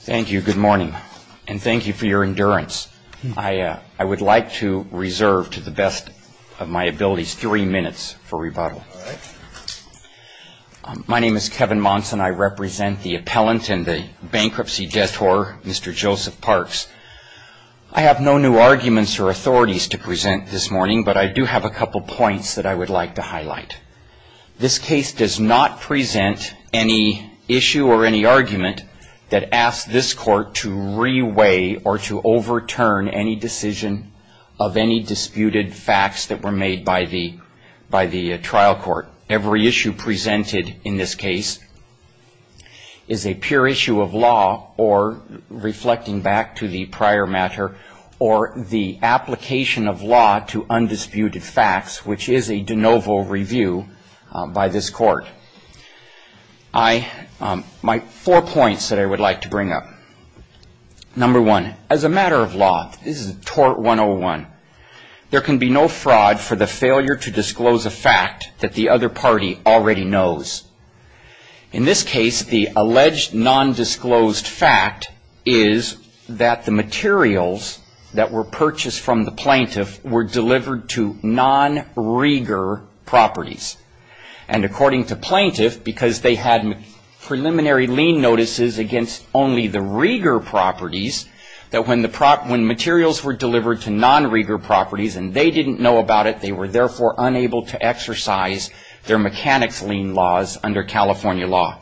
Thank you. Good morning. And thank you for your endurance. I would like to reserve, to the best of my abilities, three minutes for rebuttal. My name is Kevin Monson. I represent the appellant and the bankruptcy detour, Mr. Joseph Parks. I have no new arguments or authorities to present this morning, but I do have a couple points that I would like to highlight. This case does not present any issue or any argument that asks this court to re-weigh or to overturn any decision of any disputed facts that were made by the trial court. Every issue presented in this case is a pure issue of law or, reflecting back to the prior matter, or the application of law to undisputed facts, which is a de novo review by this court. My four points that I would like to bring up. Number one, as a matter of law, this is a tort 101, there can be no fraud for the failure to disclose a fact that the other party already knows. In this case, the alleged non-disclosed fact is that the materials that were purchased from the plaintiff were delivered to non-regar properties. And according to plaintiff, because they had preliminary lien notices against only the regar properties, that when materials were delivered to non-regar properties and they didn't know about it, they were therefore unable to exercise their mechanics lien laws under California law.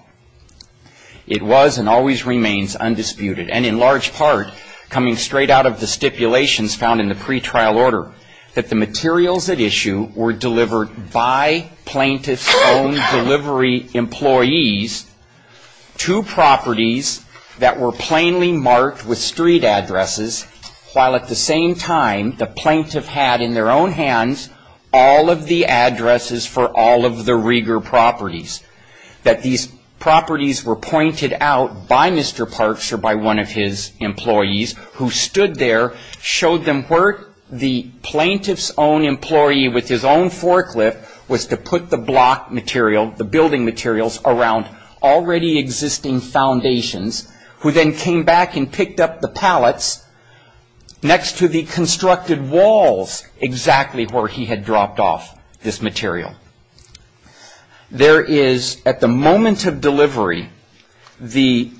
It was and always remains undisputed, and in large part coming straight out of the stipulations found in the pretrial order, that the materials at issue were delivered by plaintiff's own delivery employees to properties that were plainly marked with street addresses, while at the same time the plaintiff had in their own hands all of the addresses for all of the regar properties. That these properties were pointed out by Mr. Parks or by one of his employees who stood there, showed them where the plaintiff's own employee with his own forklift was to put the block material, the building materials, around already existing foundations, who then came back and picked up the pallets next to the constructed walls exactly where he had dropped off this material. There is, at the moment of delivery, the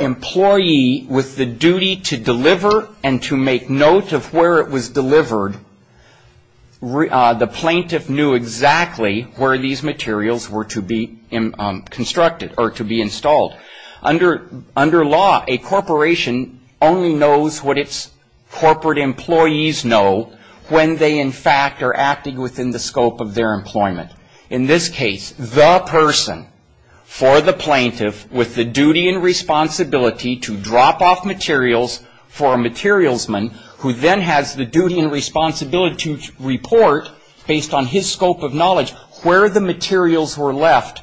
employee with the duty to deliver and to make note of where it was delivered, the plaintiff knew exactly where these materials were to be constructed or to be installed. Under law, a corporation only knows what its corporate employees know when they, in fact, are acting within the scope of their employment. In this case, the person, for the plaintiff, with the duty and responsibility to drop off materials for a materialsman, who then has the duty and responsibility to report, based on his scope of knowledge, where the materials were left,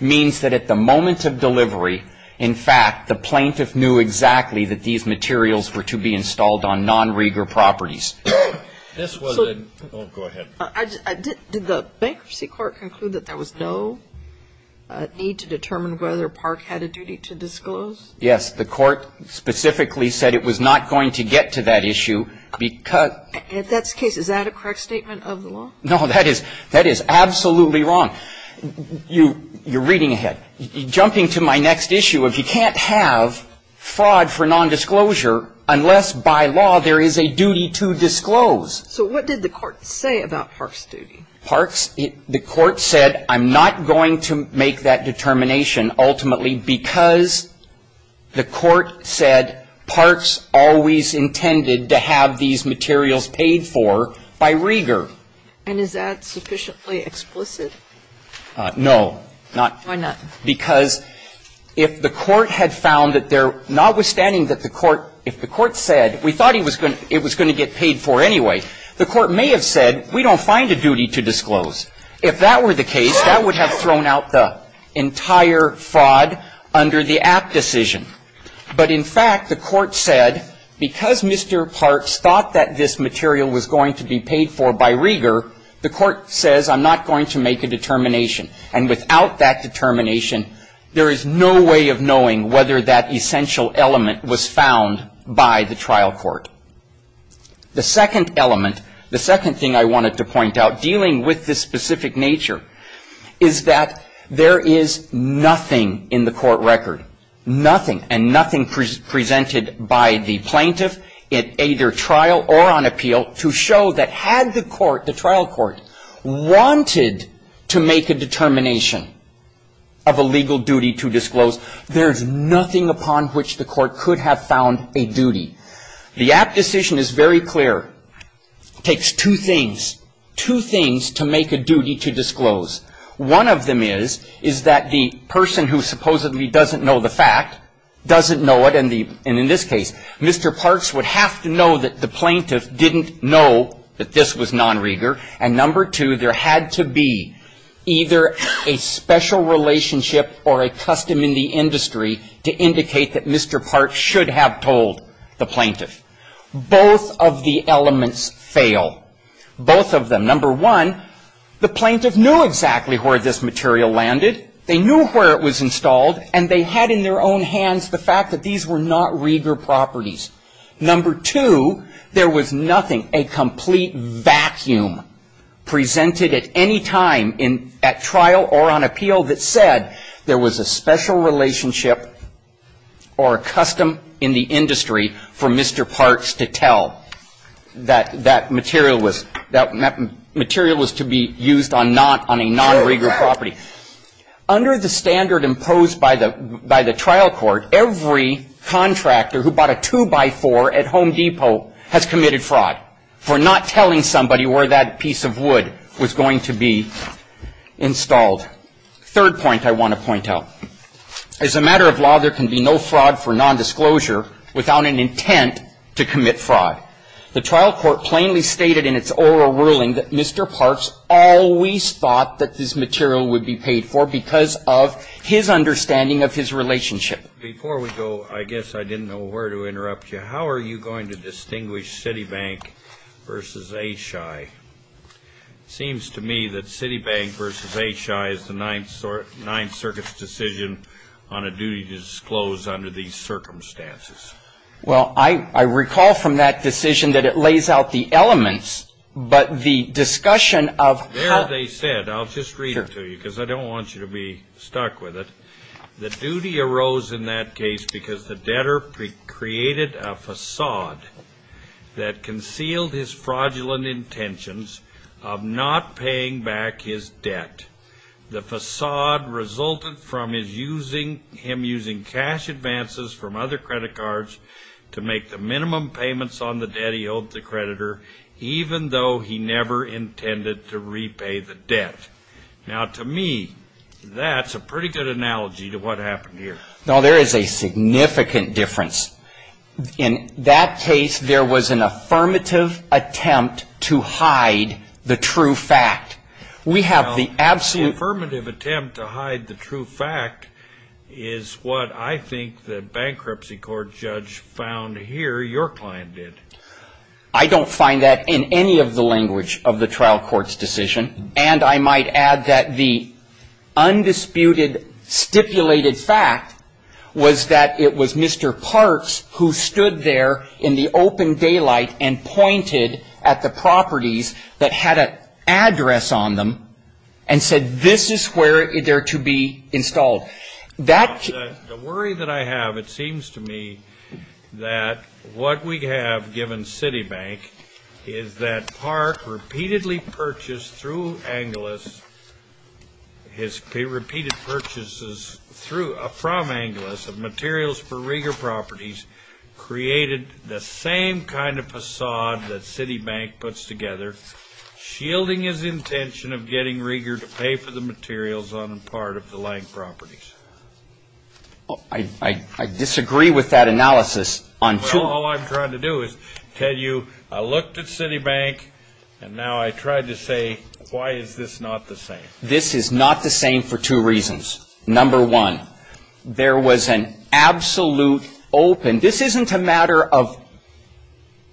means that at the moment of delivery, in fact, the plaintiff knew exactly that these materials were to be installed on non-regar properties. This was a, oh, go ahead. Did the bankruptcy court conclude that there was no need to determine whether Park had a duty to disclose? Yes. The court specifically said it was not going to get to that issue because. In that case, is that a correct statement of the law? No, that is absolutely wrong. You're reading ahead. Jumping to my next issue, if you can't have fraud for nondisclosure unless by law there is a duty to disclose. So what did the court say about Park's duty? Park's, the court said I'm not going to make that determination ultimately because the court said Park's always intended to have these materials paid for by regar. And is that sufficiently explicit? No. Why not? Because if the court had found that there, notwithstanding that the court, if the court said we thought he was going to, it was going to get paid for anyway, the court may have said we don't find a duty to disclose. If that were the case, that would have thrown out the entire fraud under the Apt decision. But in fact, the court said because Mr. Park thought that this material was going to be paid for by regar, the court says I'm not going to make a determination. And without that determination, there is no way of knowing whether that essential element was found by the trial court. The second element, the second thing I wanted to point out, dealing with this specific nature, is that there is nothing in the court record, nothing, and nothing presented by the plaintiff at either trial or on appeal to show that had the court, the trial court, wanted to make a determination of a legal duty to disclose, there's nothing upon which the court could have found a duty. The Apt decision is very clear. It takes two things, two things to make a duty to disclose. One of them is, is that the person who supposedly doesn't know the fact doesn't know it. And in this case, Mr. Parks would have to know that the plaintiff didn't know that this was nonregar. And number two, there had to be either a special relationship or a custom in the industry to indicate that Mr. Parks should have told the plaintiff. Both of the elements fail. Both of them. Number one, the plaintiff knew exactly where this material landed. They knew where it was installed, and they had in their own hands the fact that these were nonregar properties. Number two, there was nothing, a complete vacuum presented at any time at trial or on appeal that said there was a special relationship or a custom in the industry for Mr. Parks to tell that that material was, that material was to be used on a nonregar property. Under the standard imposed by the, by the trial court, every contractor who bought a two-by-four at Home Depot has committed fraud for not telling somebody where that piece of wood was going to be installed. Third point I want to point out. As a matter of law, there can be no fraud for nondisclosure without an intent to commit fraud. The trial court plainly stated in its oral ruling that Mr. Parks always thought that this material would be paid for because of his understanding of his relationship. Before we go, I guess I didn't know where to interrupt you. How are you going to distinguish Citibank versus Aishai? It seems to me that Citibank versus Aishai is the Ninth Circuit's decision on a duty to disclose under these circumstances. Well, I recall from that decision that it lays out the elements, but the discussion of how There they said, I'll just read it to you because I don't want you to be stuck with it. The duty arose in that case because the debtor created a facade that concealed his fraudulent intentions of not paying back his debt. The facade resulted from him using cash advances from other credit cards to make the minimum payments on the debt he owed the creditor, even though he never intended to repay the debt. Now, to me, that's a pretty good analogy to what happened here. No, there is a significant difference. In that case, there was an affirmative attempt to hide the true fact. We have the absolute Affirmative attempt to hide the true fact is what I think the bankruptcy court judge found here your client did. I don't find that in any of the language of the trial court's decision. And I might add that the undisputed stipulated fact was that it was Mr. Parks who stood there in the open daylight and pointed at the properties that had an address on them and said, this is where they're to be installed. The worry that I have, it seems to me that what we have given Citibank is that Park repeatedly purchased through Angeles, his repeated purchases from Angeles of materials for Rieger Properties created the same kind of facade that Citibank puts together, shielding his intention of getting Rieger to pay for the materials on the part of the Lank Properties. I disagree with that analysis. All I'm trying to do is tell you, I looked at Citibank and now I tried to say, why is this not the same? This is not the same for two reasons. Number one, there was an absolute open. This isn't a matter of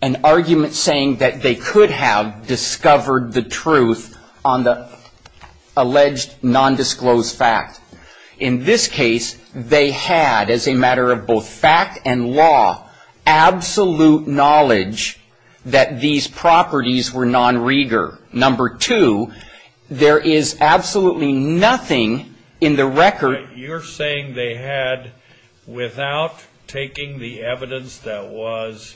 an argument saying that they could have discovered the truth on the alleged nondisclosed fact. In this case, they had as a matter of both fact and law, absolute knowledge that these properties were non-Rieger. Number two, there is absolutely nothing in the record. You're saying they had, without taking the evidence that was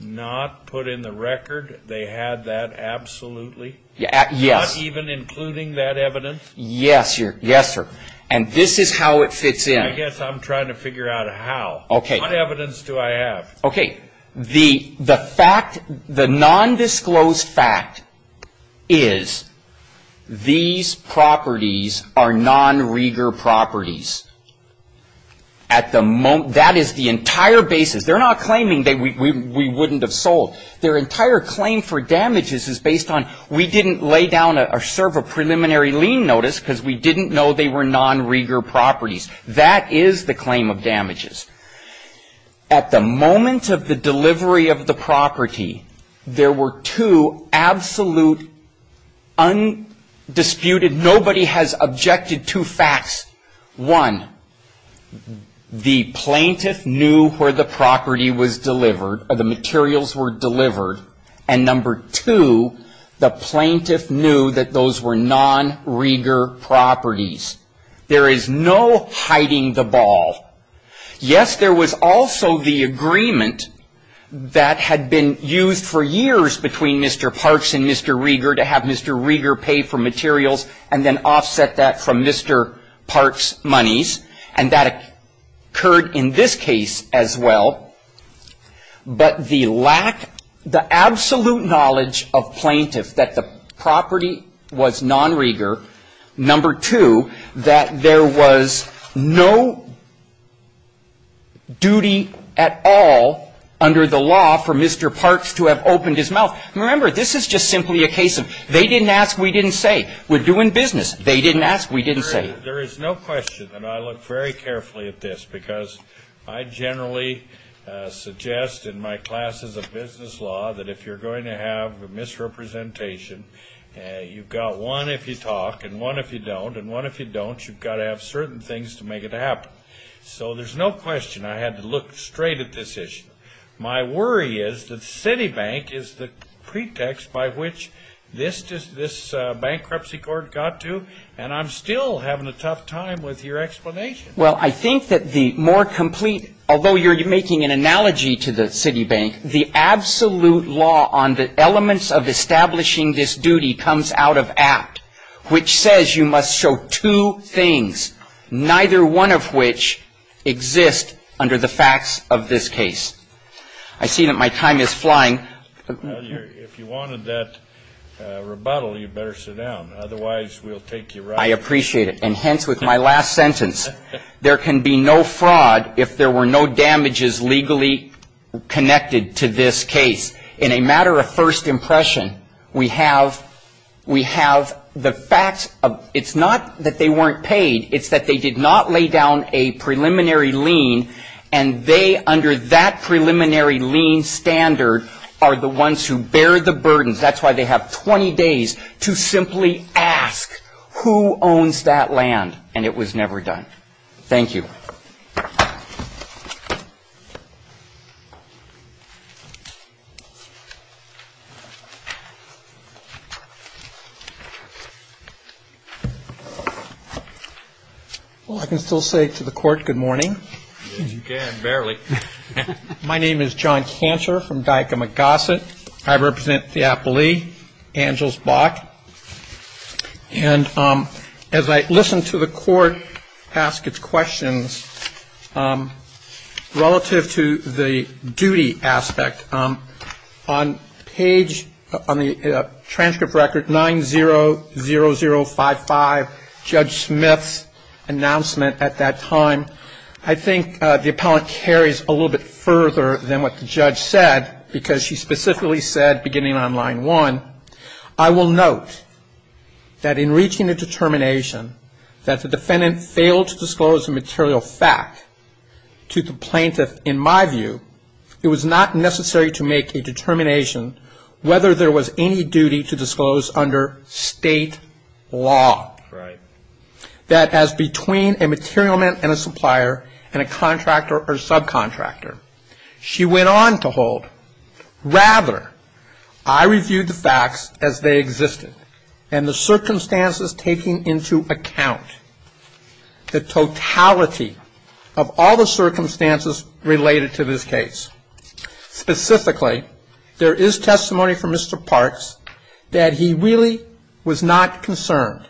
not put in the record, they had that absolutely? Yes. Not even including that evidence? Yes, sir. And this is how it fits in. I guess I'm trying to figure out how. Okay. What evidence do I have? Okay. The fact, the nondisclosed fact is these properties are non-Rieger properties. That is the entire basis. They're not claiming that we wouldn't have sold. Their entire claim for damages is based on we didn't lay down or serve a preliminary lien notice because we didn't know they were non-Rieger properties. That is the claim of damages. At the moment of the delivery of the property, there were two absolute undisputed, nobody has objected to facts. One, the plaintiff knew where the property was delivered or the materials were delivered. And number two, the plaintiff knew that those were non-Rieger properties. There is no hiding the ball. Yes, there was also the agreement that had been used for years between Mr. Parks and Mr. Rieger to have Mr. Rieger pay for materials and then offset that from Mr. Parks' monies. And that occurred in this case as well. But the lack, the absolute knowledge of plaintiff that the property was non-Rieger, number two, that there was no duty at all under the law for Mr. Parks to have opened his mouth. Remember, this is just simply a case of they didn't ask, we didn't say. We're doing business. They didn't ask, we didn't say. There is no question, and I look very carefully at this, because I generally suggest in my classes of business law that if you're going to have a misrepresentation, you've got one if you talk and one if you don't. And one if you don't, you've got to have certain things to make it happen. So there's no question I had to look straight at this issue. My worry is that Citibank is the pretext by which this bankruptcy court got to, and I'm still having a tough time with your explanation. Well, I think that the more complete, although you're making an analogy to the Citibank, the absolute law on the elements of establishing this duty comes out of Act, which says you must show two things, neither one of which exists under the facts of this case. I see that my time is flying. If you wanted that rebuttal, you better sit down. Otherwise, we'll take you right back. I appreciate it. And hence, with my last sentence, there can be no fraud if there were no damages legally connected to this case. In a matter of first impression, we have the facts of, it's not that they weren't paid, it's that they did not lay down a preliminary lien, and they, under that preliminary lien standard, are the ones who bear the burdens. That's why they have 20 days to simply ask who owns that land, and it was never done. Thank you. Well, I can still say to the Court, good morning. You can, barely. My name is John Cantor from Dicomac Gossett. I represent the appellee, Angels Bach. And as I listen to the Court ask its questions, relative to the duty aspect, on page, on the transcript record 90055, Judge Smith's announcement at that time, I think the appellant carries a little bit further than what the judge said, because she specifically said, beginning on line one, I will note that in reaching a determination that the defendant failed to disclose a material fact to the plaintiff, in my view, it was not necessary to make a determination whether there was any duty to disclose under state law. Right. That as between a material man and a supplier, and a contractor or subcontractor. She went on to hold, rather, I reviewed the facts as they existed, and the circumstances taking into account the totality of all the circumstances related to this case. Specifically, there is testimony from Mr. Parks that he really was not concerned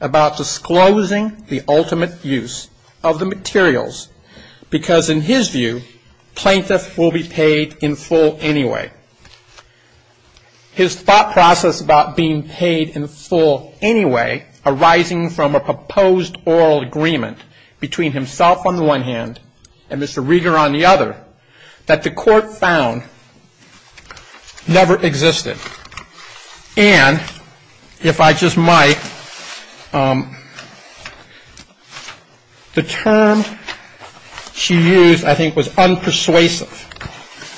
about disclosing the ultimate use of the materials, because in his view, plaintiff will be paid in full anyway. His thought process about being paid in full anyway, arising from a proposed oral agreement between himself on the one hand, and Mr. Rieger on the other, that the Court found never existed. And, if I just might, the term she used, I think, was unpersuasive.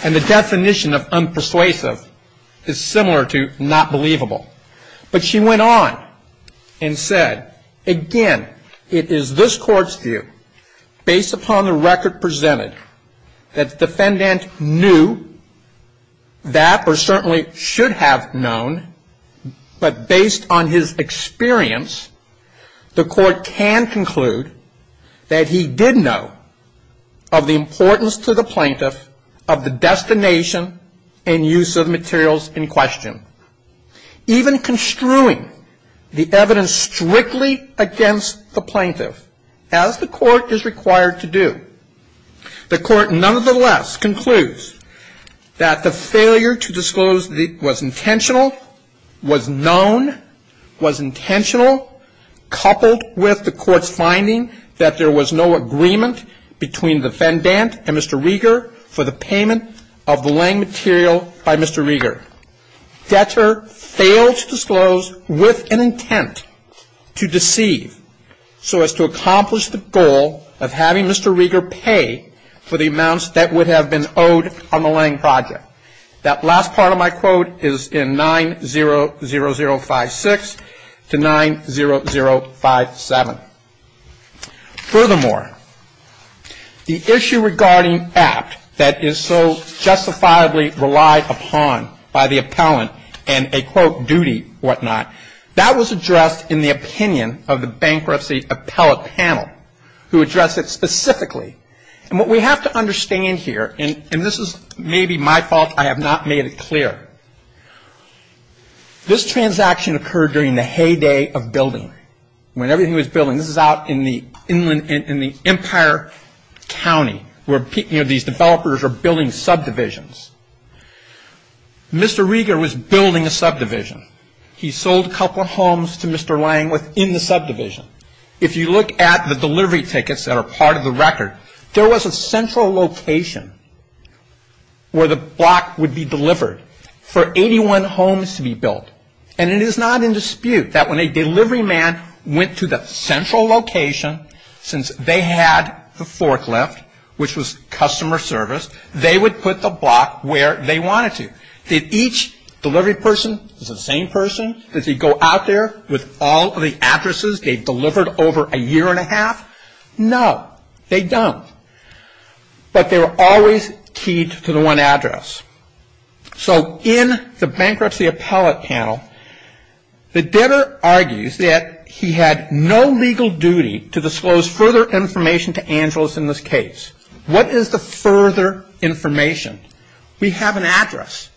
And the definition of unpersuasive is similar to not believable. But she went on and said, again, it is this Court's view, based upon the record presented, that the defendant knew that, or certainly should have known, but based on his experience, the Court can conclude that he did know of the importance to the plaintiff of the destination and use of materials in question. Even construing the evidence strictly against the plaintiff, as the Court is required to do, the Court nonetheless concludes that the failure to disclose was intentional, was known, was intentional, coupled with the Court's finding that there was no agreement between the defendant and Mr. Rieger for the payment of the laying material by Mr. Rieger. Debtor failed to disclose with an intent to deceive so as to accomplish the goal of having Mr. Rieger pay for the amounts that would have been owed on the laying project. That last part of my quote is in 90056 to 90057. Furthermore, the issue regarding act that is so justifiably relied upon by the appellant and a, quote, duty, whatnot, that was addressed in the opinion of the bankruptcy appellate panel who addressed it specifically. And what we have to understand here, and this is maybe my fault, I have not made it clear, this transaction occurred during the heyday of building. When everything was building, this is out in the Empire County where these developers were building subdivisions. Mr. Rieger was building a subdivision. He sold a couple of homes to Mr. Lange within the subdivision. If you look at the delivery tickets that are part of the record, there was a central location where the block would be delivered for 81 homes to be built. And it is not in dispute that when a delivery man went to the central location, since they had the forklift, which was customer service, they would put the block where they wanted to. Did each delivery person, was it the same person? Did they go out there with all of the addresses they delivered over a year and a half? No, they don't. But they were always keyed to the one address. So in the bankruptcy appellate panel, the debtor argues that he had no legal duty to disclose further information to Angeles in this case. What is the further information? We have an address.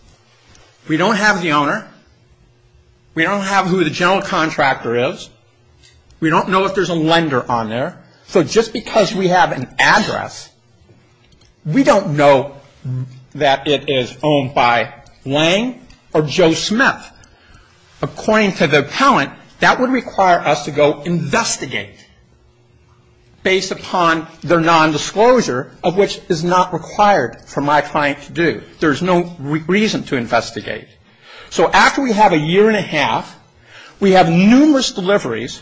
We don't have the owner. We don't have who the general contractor is. We don't know if there's a lender on there. So just because we have an address, we don't know that it is owned by Wang or Joe Smith. According to the appellant, that would require us to go investigate based upon their nondisclosure, of which is not required for my client to do. There's no reason to investigate. So after we have a year and a half, we have numerous deliveries.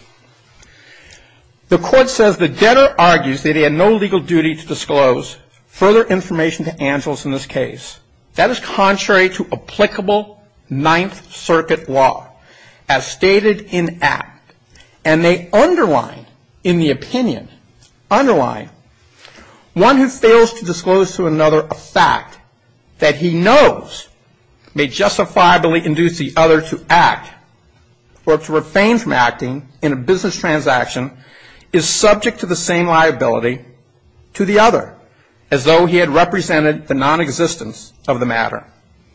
The court says the debtor argues that he had no legal duty to disclose further information to Angeles in this case. That is contrary to applicable Ninth Circuit law as stated in Act. And they underline in the opinion, underline, one who fails to disclose to another a fact that he knows may justifiably induce the other to act or to refrain from acting in a business transaction is subject to the same liability to the other, as though he had represented the nonexistence of the matter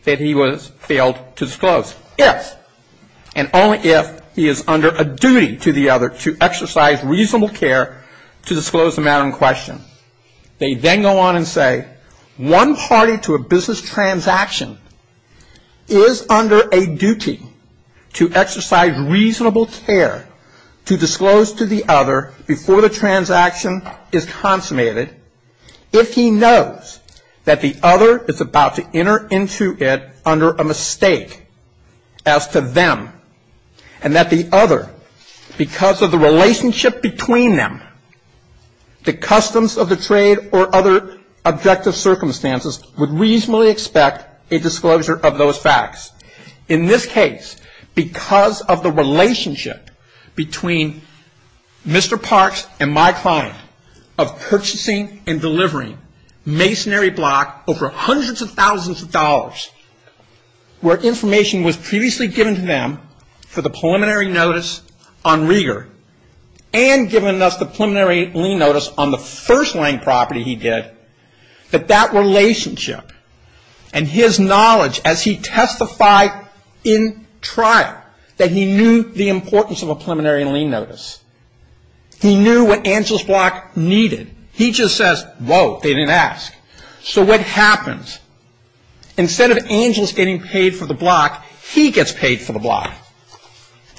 that he was failed to disclose, if and only if he is under a duty to the other to exercise reasonable care to disclose the matter in question. They then go on and say one party to a business transaction is under a duty to exercise reasonable care to disclose to the other before the transaction is consummated if he knows that the other is about to enter into it under a mistake as to them and that the other, because of the relationship between them, the customs of the trade or other objective circumstances, would reasonably expect a disclosure of those facts. In this case, because of the relationship between Mr. Parks and my client of purchasing and delivering masonry block over hundreds of thousands of dollars where information was previously given to them for the preliminary notice on rigor and given us the preliminary lien notice on the first-line property he did, that that relationship and his knowledge as he testified in trial that he knew the importance of a preliminary lien notice. He knew what Angelus Block needed. He just says, whoa, they didn't ask. So what happens? Instead of Angelus getting paid for the block, he gets paid for the block.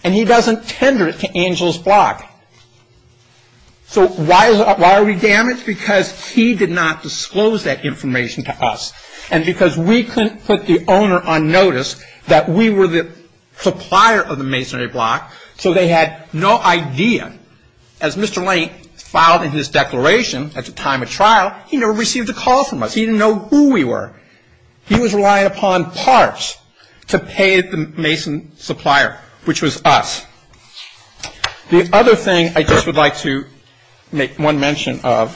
And he doesn't tender it to Angelus Block. So why are we damaged? Because he did not disclose that information to us and because we couldn't put the owner on notice that we were the supplier of the masonry block, so they had no idea. As Mr. Lane filed in his declaration at the time of trial, he never received a call from us. He didn't know who we were. He was relying upon Parks to pay the mason supplier, which was us. The other thing I just would like to make one mention of,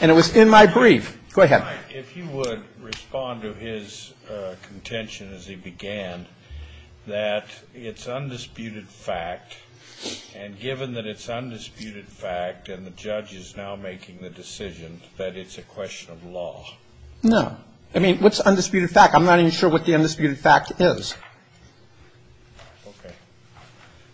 and it was in my brief. Go ahead. If you would respond to his contention as he began that it's undisputed fact, and given that it's undisputed fact and the judge is now making the decision that it's a question of law. No. I mean, what's undisputed fact? I'm not even sure what the undisputed fact is. Okay.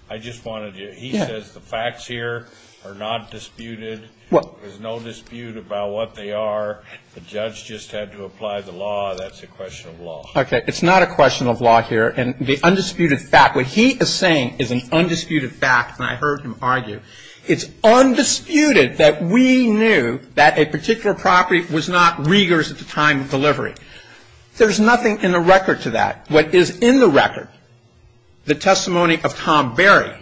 I just wanted to he says the facts here are not disputed. There's no dispute about what they are. The judge just had to apply the law. That's a question of law. Okay. It's not a question of law here. And the undisputed fact, what he is saying is an undisputed fact, and I heard him argue. It's undisputed that we knew that a particular property was not Regers at the time of delivery. There's nothing in the record to that. What is in the record, the testimony of Tom Berry,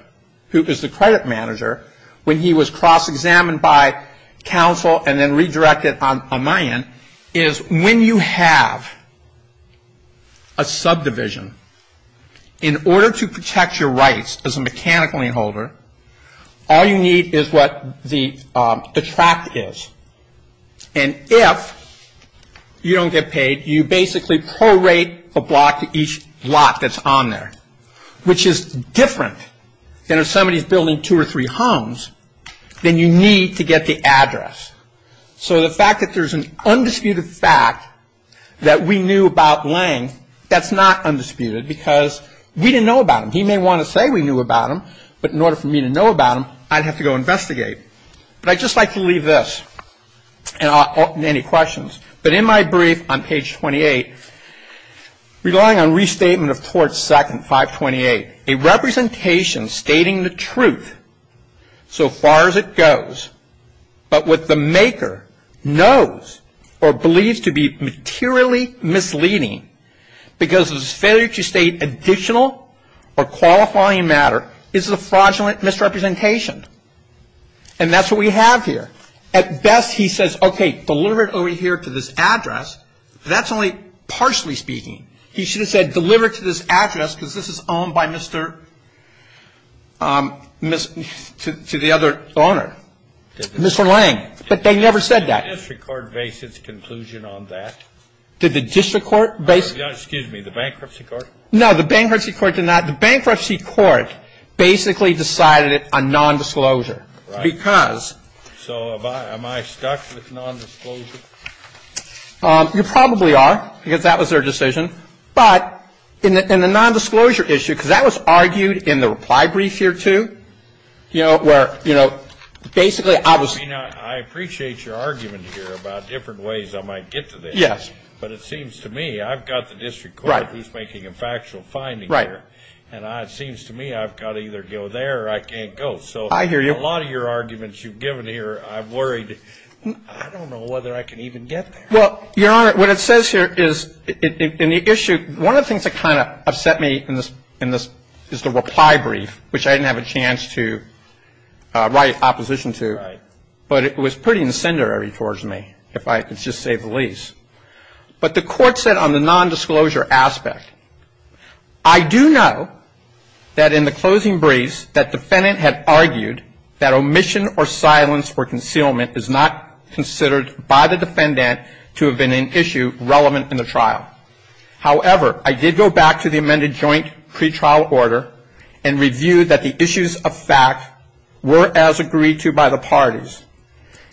who is the credit manager, when he was cross-examined by counsel and then redirected on my end, is when you have a subdivision, in order to protect your rights as a mechanical lien holder, all you need is what the tract is. And if you don't get paid, you basically prorate a block to each block that's on there, which is different than if somebody is building two or three homes, then you need to get the address. So the fact that there's an undisputed fact that we knew about Lange, that's not undisputed, because we didn't know about him. He may want to say we knew about him, but in order for me to know about him, I'd have to go investigate. But I'd just like to leave this and I'll open to any questions. But in my brief on page 28, relying on restatement of Torts 2nd, 528, a representation stating the truth so far as it goes, but what the maker knows or believes to be materially misleading because of his failure to state additional or qualifying matter is a fraudulent misrepresentation. And that's what we have here. At best, he says, okay, deliver it over here to this address. That's only partially speaking. He should have said deliver it to this address because this is owned by Mr. to the other owner, Mr. Lange. But they never said that. Did the district court base its conclusion on that? Did the district court base it? Excuse me, the bankruptcy court? No, the bankruptcy court did not. The bankruptcy court basically decided it on nondisclosure because. So am I stuck with nondisclosure? You probably are because that was their decision. But in the nondisclosure issue, because that was argued in the reply brief here too, you know, where basically I was. I mean, I appreciate your argument here about different ways I might get to this. Yes. But it seems to me I've got the district court who's making a factual finding here. Right. And it seems to me I've got to either go there or I can't go. I hear you. I hear a lot of your arguments you've given here. I'm worried. I don't know whether I can even get there. Well, Your Honor, what it says here is in the issue, one of the things that kind of upset me in this is the reply brief, which I didn't have a chance to write opposition to. Right. But it was pretty incendiary towards me, if I could just say the least. But the court said on the nondisclosure aspect, I do know that in the closing briefs that defendant had argued that omission or silence or concealment is not considered by the defendant to have been an issue relevant in the trial. However, I did go back to the amended joint pretrial order and reviewed that the issues of fact were as agreed to by the parties.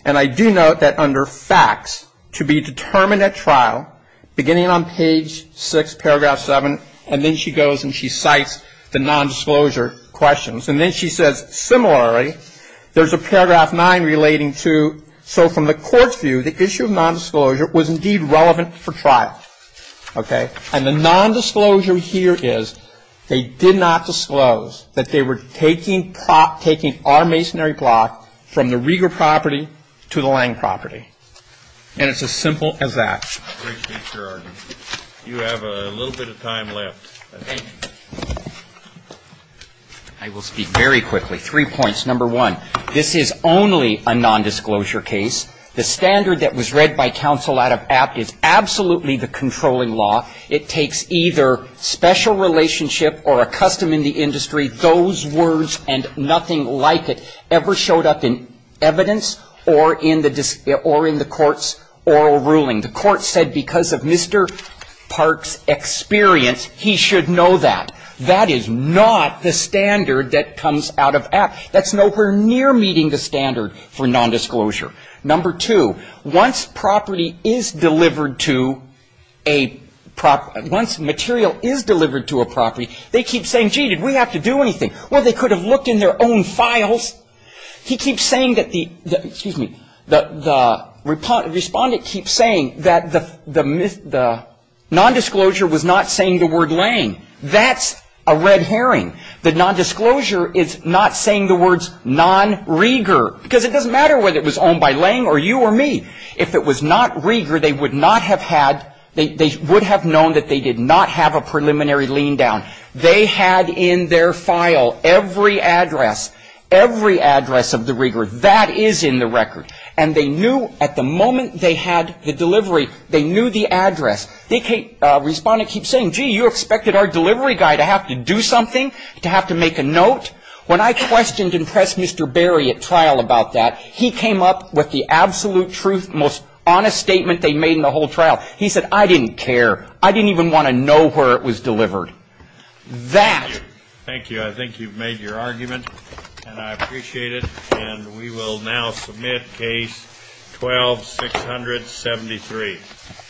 And I do note that under facts to be determined at trial, beginning on page six, paragraph seven, and then she goes and she cites the nondisclosure questions. And then she says, similarly, there's a paragraph nine relating to, so from the court's view, the issue of nondisclosure was indeed relevant for trial. Okay. And the nondisclosure here is they did not disclose that they were taking our masonry block from the Rieger property to the Lange property. And it's as simple as that. You have a little bit of time left. Thank you. I will speak very quickly. Three points. Number one, this is only a nondisclosure case. The standard that was read by counsel out of apt is absolutely the controlling law. It takes either special relationship or a custom in the industry. Those words and nothing like it ever showed up in evidence or in the court's oral ruling. The court said because of Mr. Park's experience, he should know that. That is not the standard that comes out of apt. That's nowhere near meeting the standard for nondisclosure. Number two, once property is delivered to a property, once material is delivered to a property, they keep saying, gee, did we have to do anything? Well, they could have looked in their own files. He keeps saying that the respondent keeps saying that the nondisclosure was not saying the word Lange. That's a red herring. The nondisclosure is not saying the words non-Rieger because it doesn't matter whether it was owned by Lange or you or me. If it was not Rieger, they would not have had, they would have known that they did not have a preliminary lean down. They had in their file every address, every address of the Rieger. That is in the record. And they knew at the moment they had the delivery, they knew the address. The respondent keeps saying, gee, you expected our delivery guy to have to do something, to have to make a note? When I questioned and pressed Mr. Berry at trial about that, he came up with the absolute truth, most honest statement they made in the whole trial. He said, I didn't care. I didn't even want to know where it was delivered. That. Thank you. I think you've made your argument, and I appreciate it. And we will now submit case 12-673.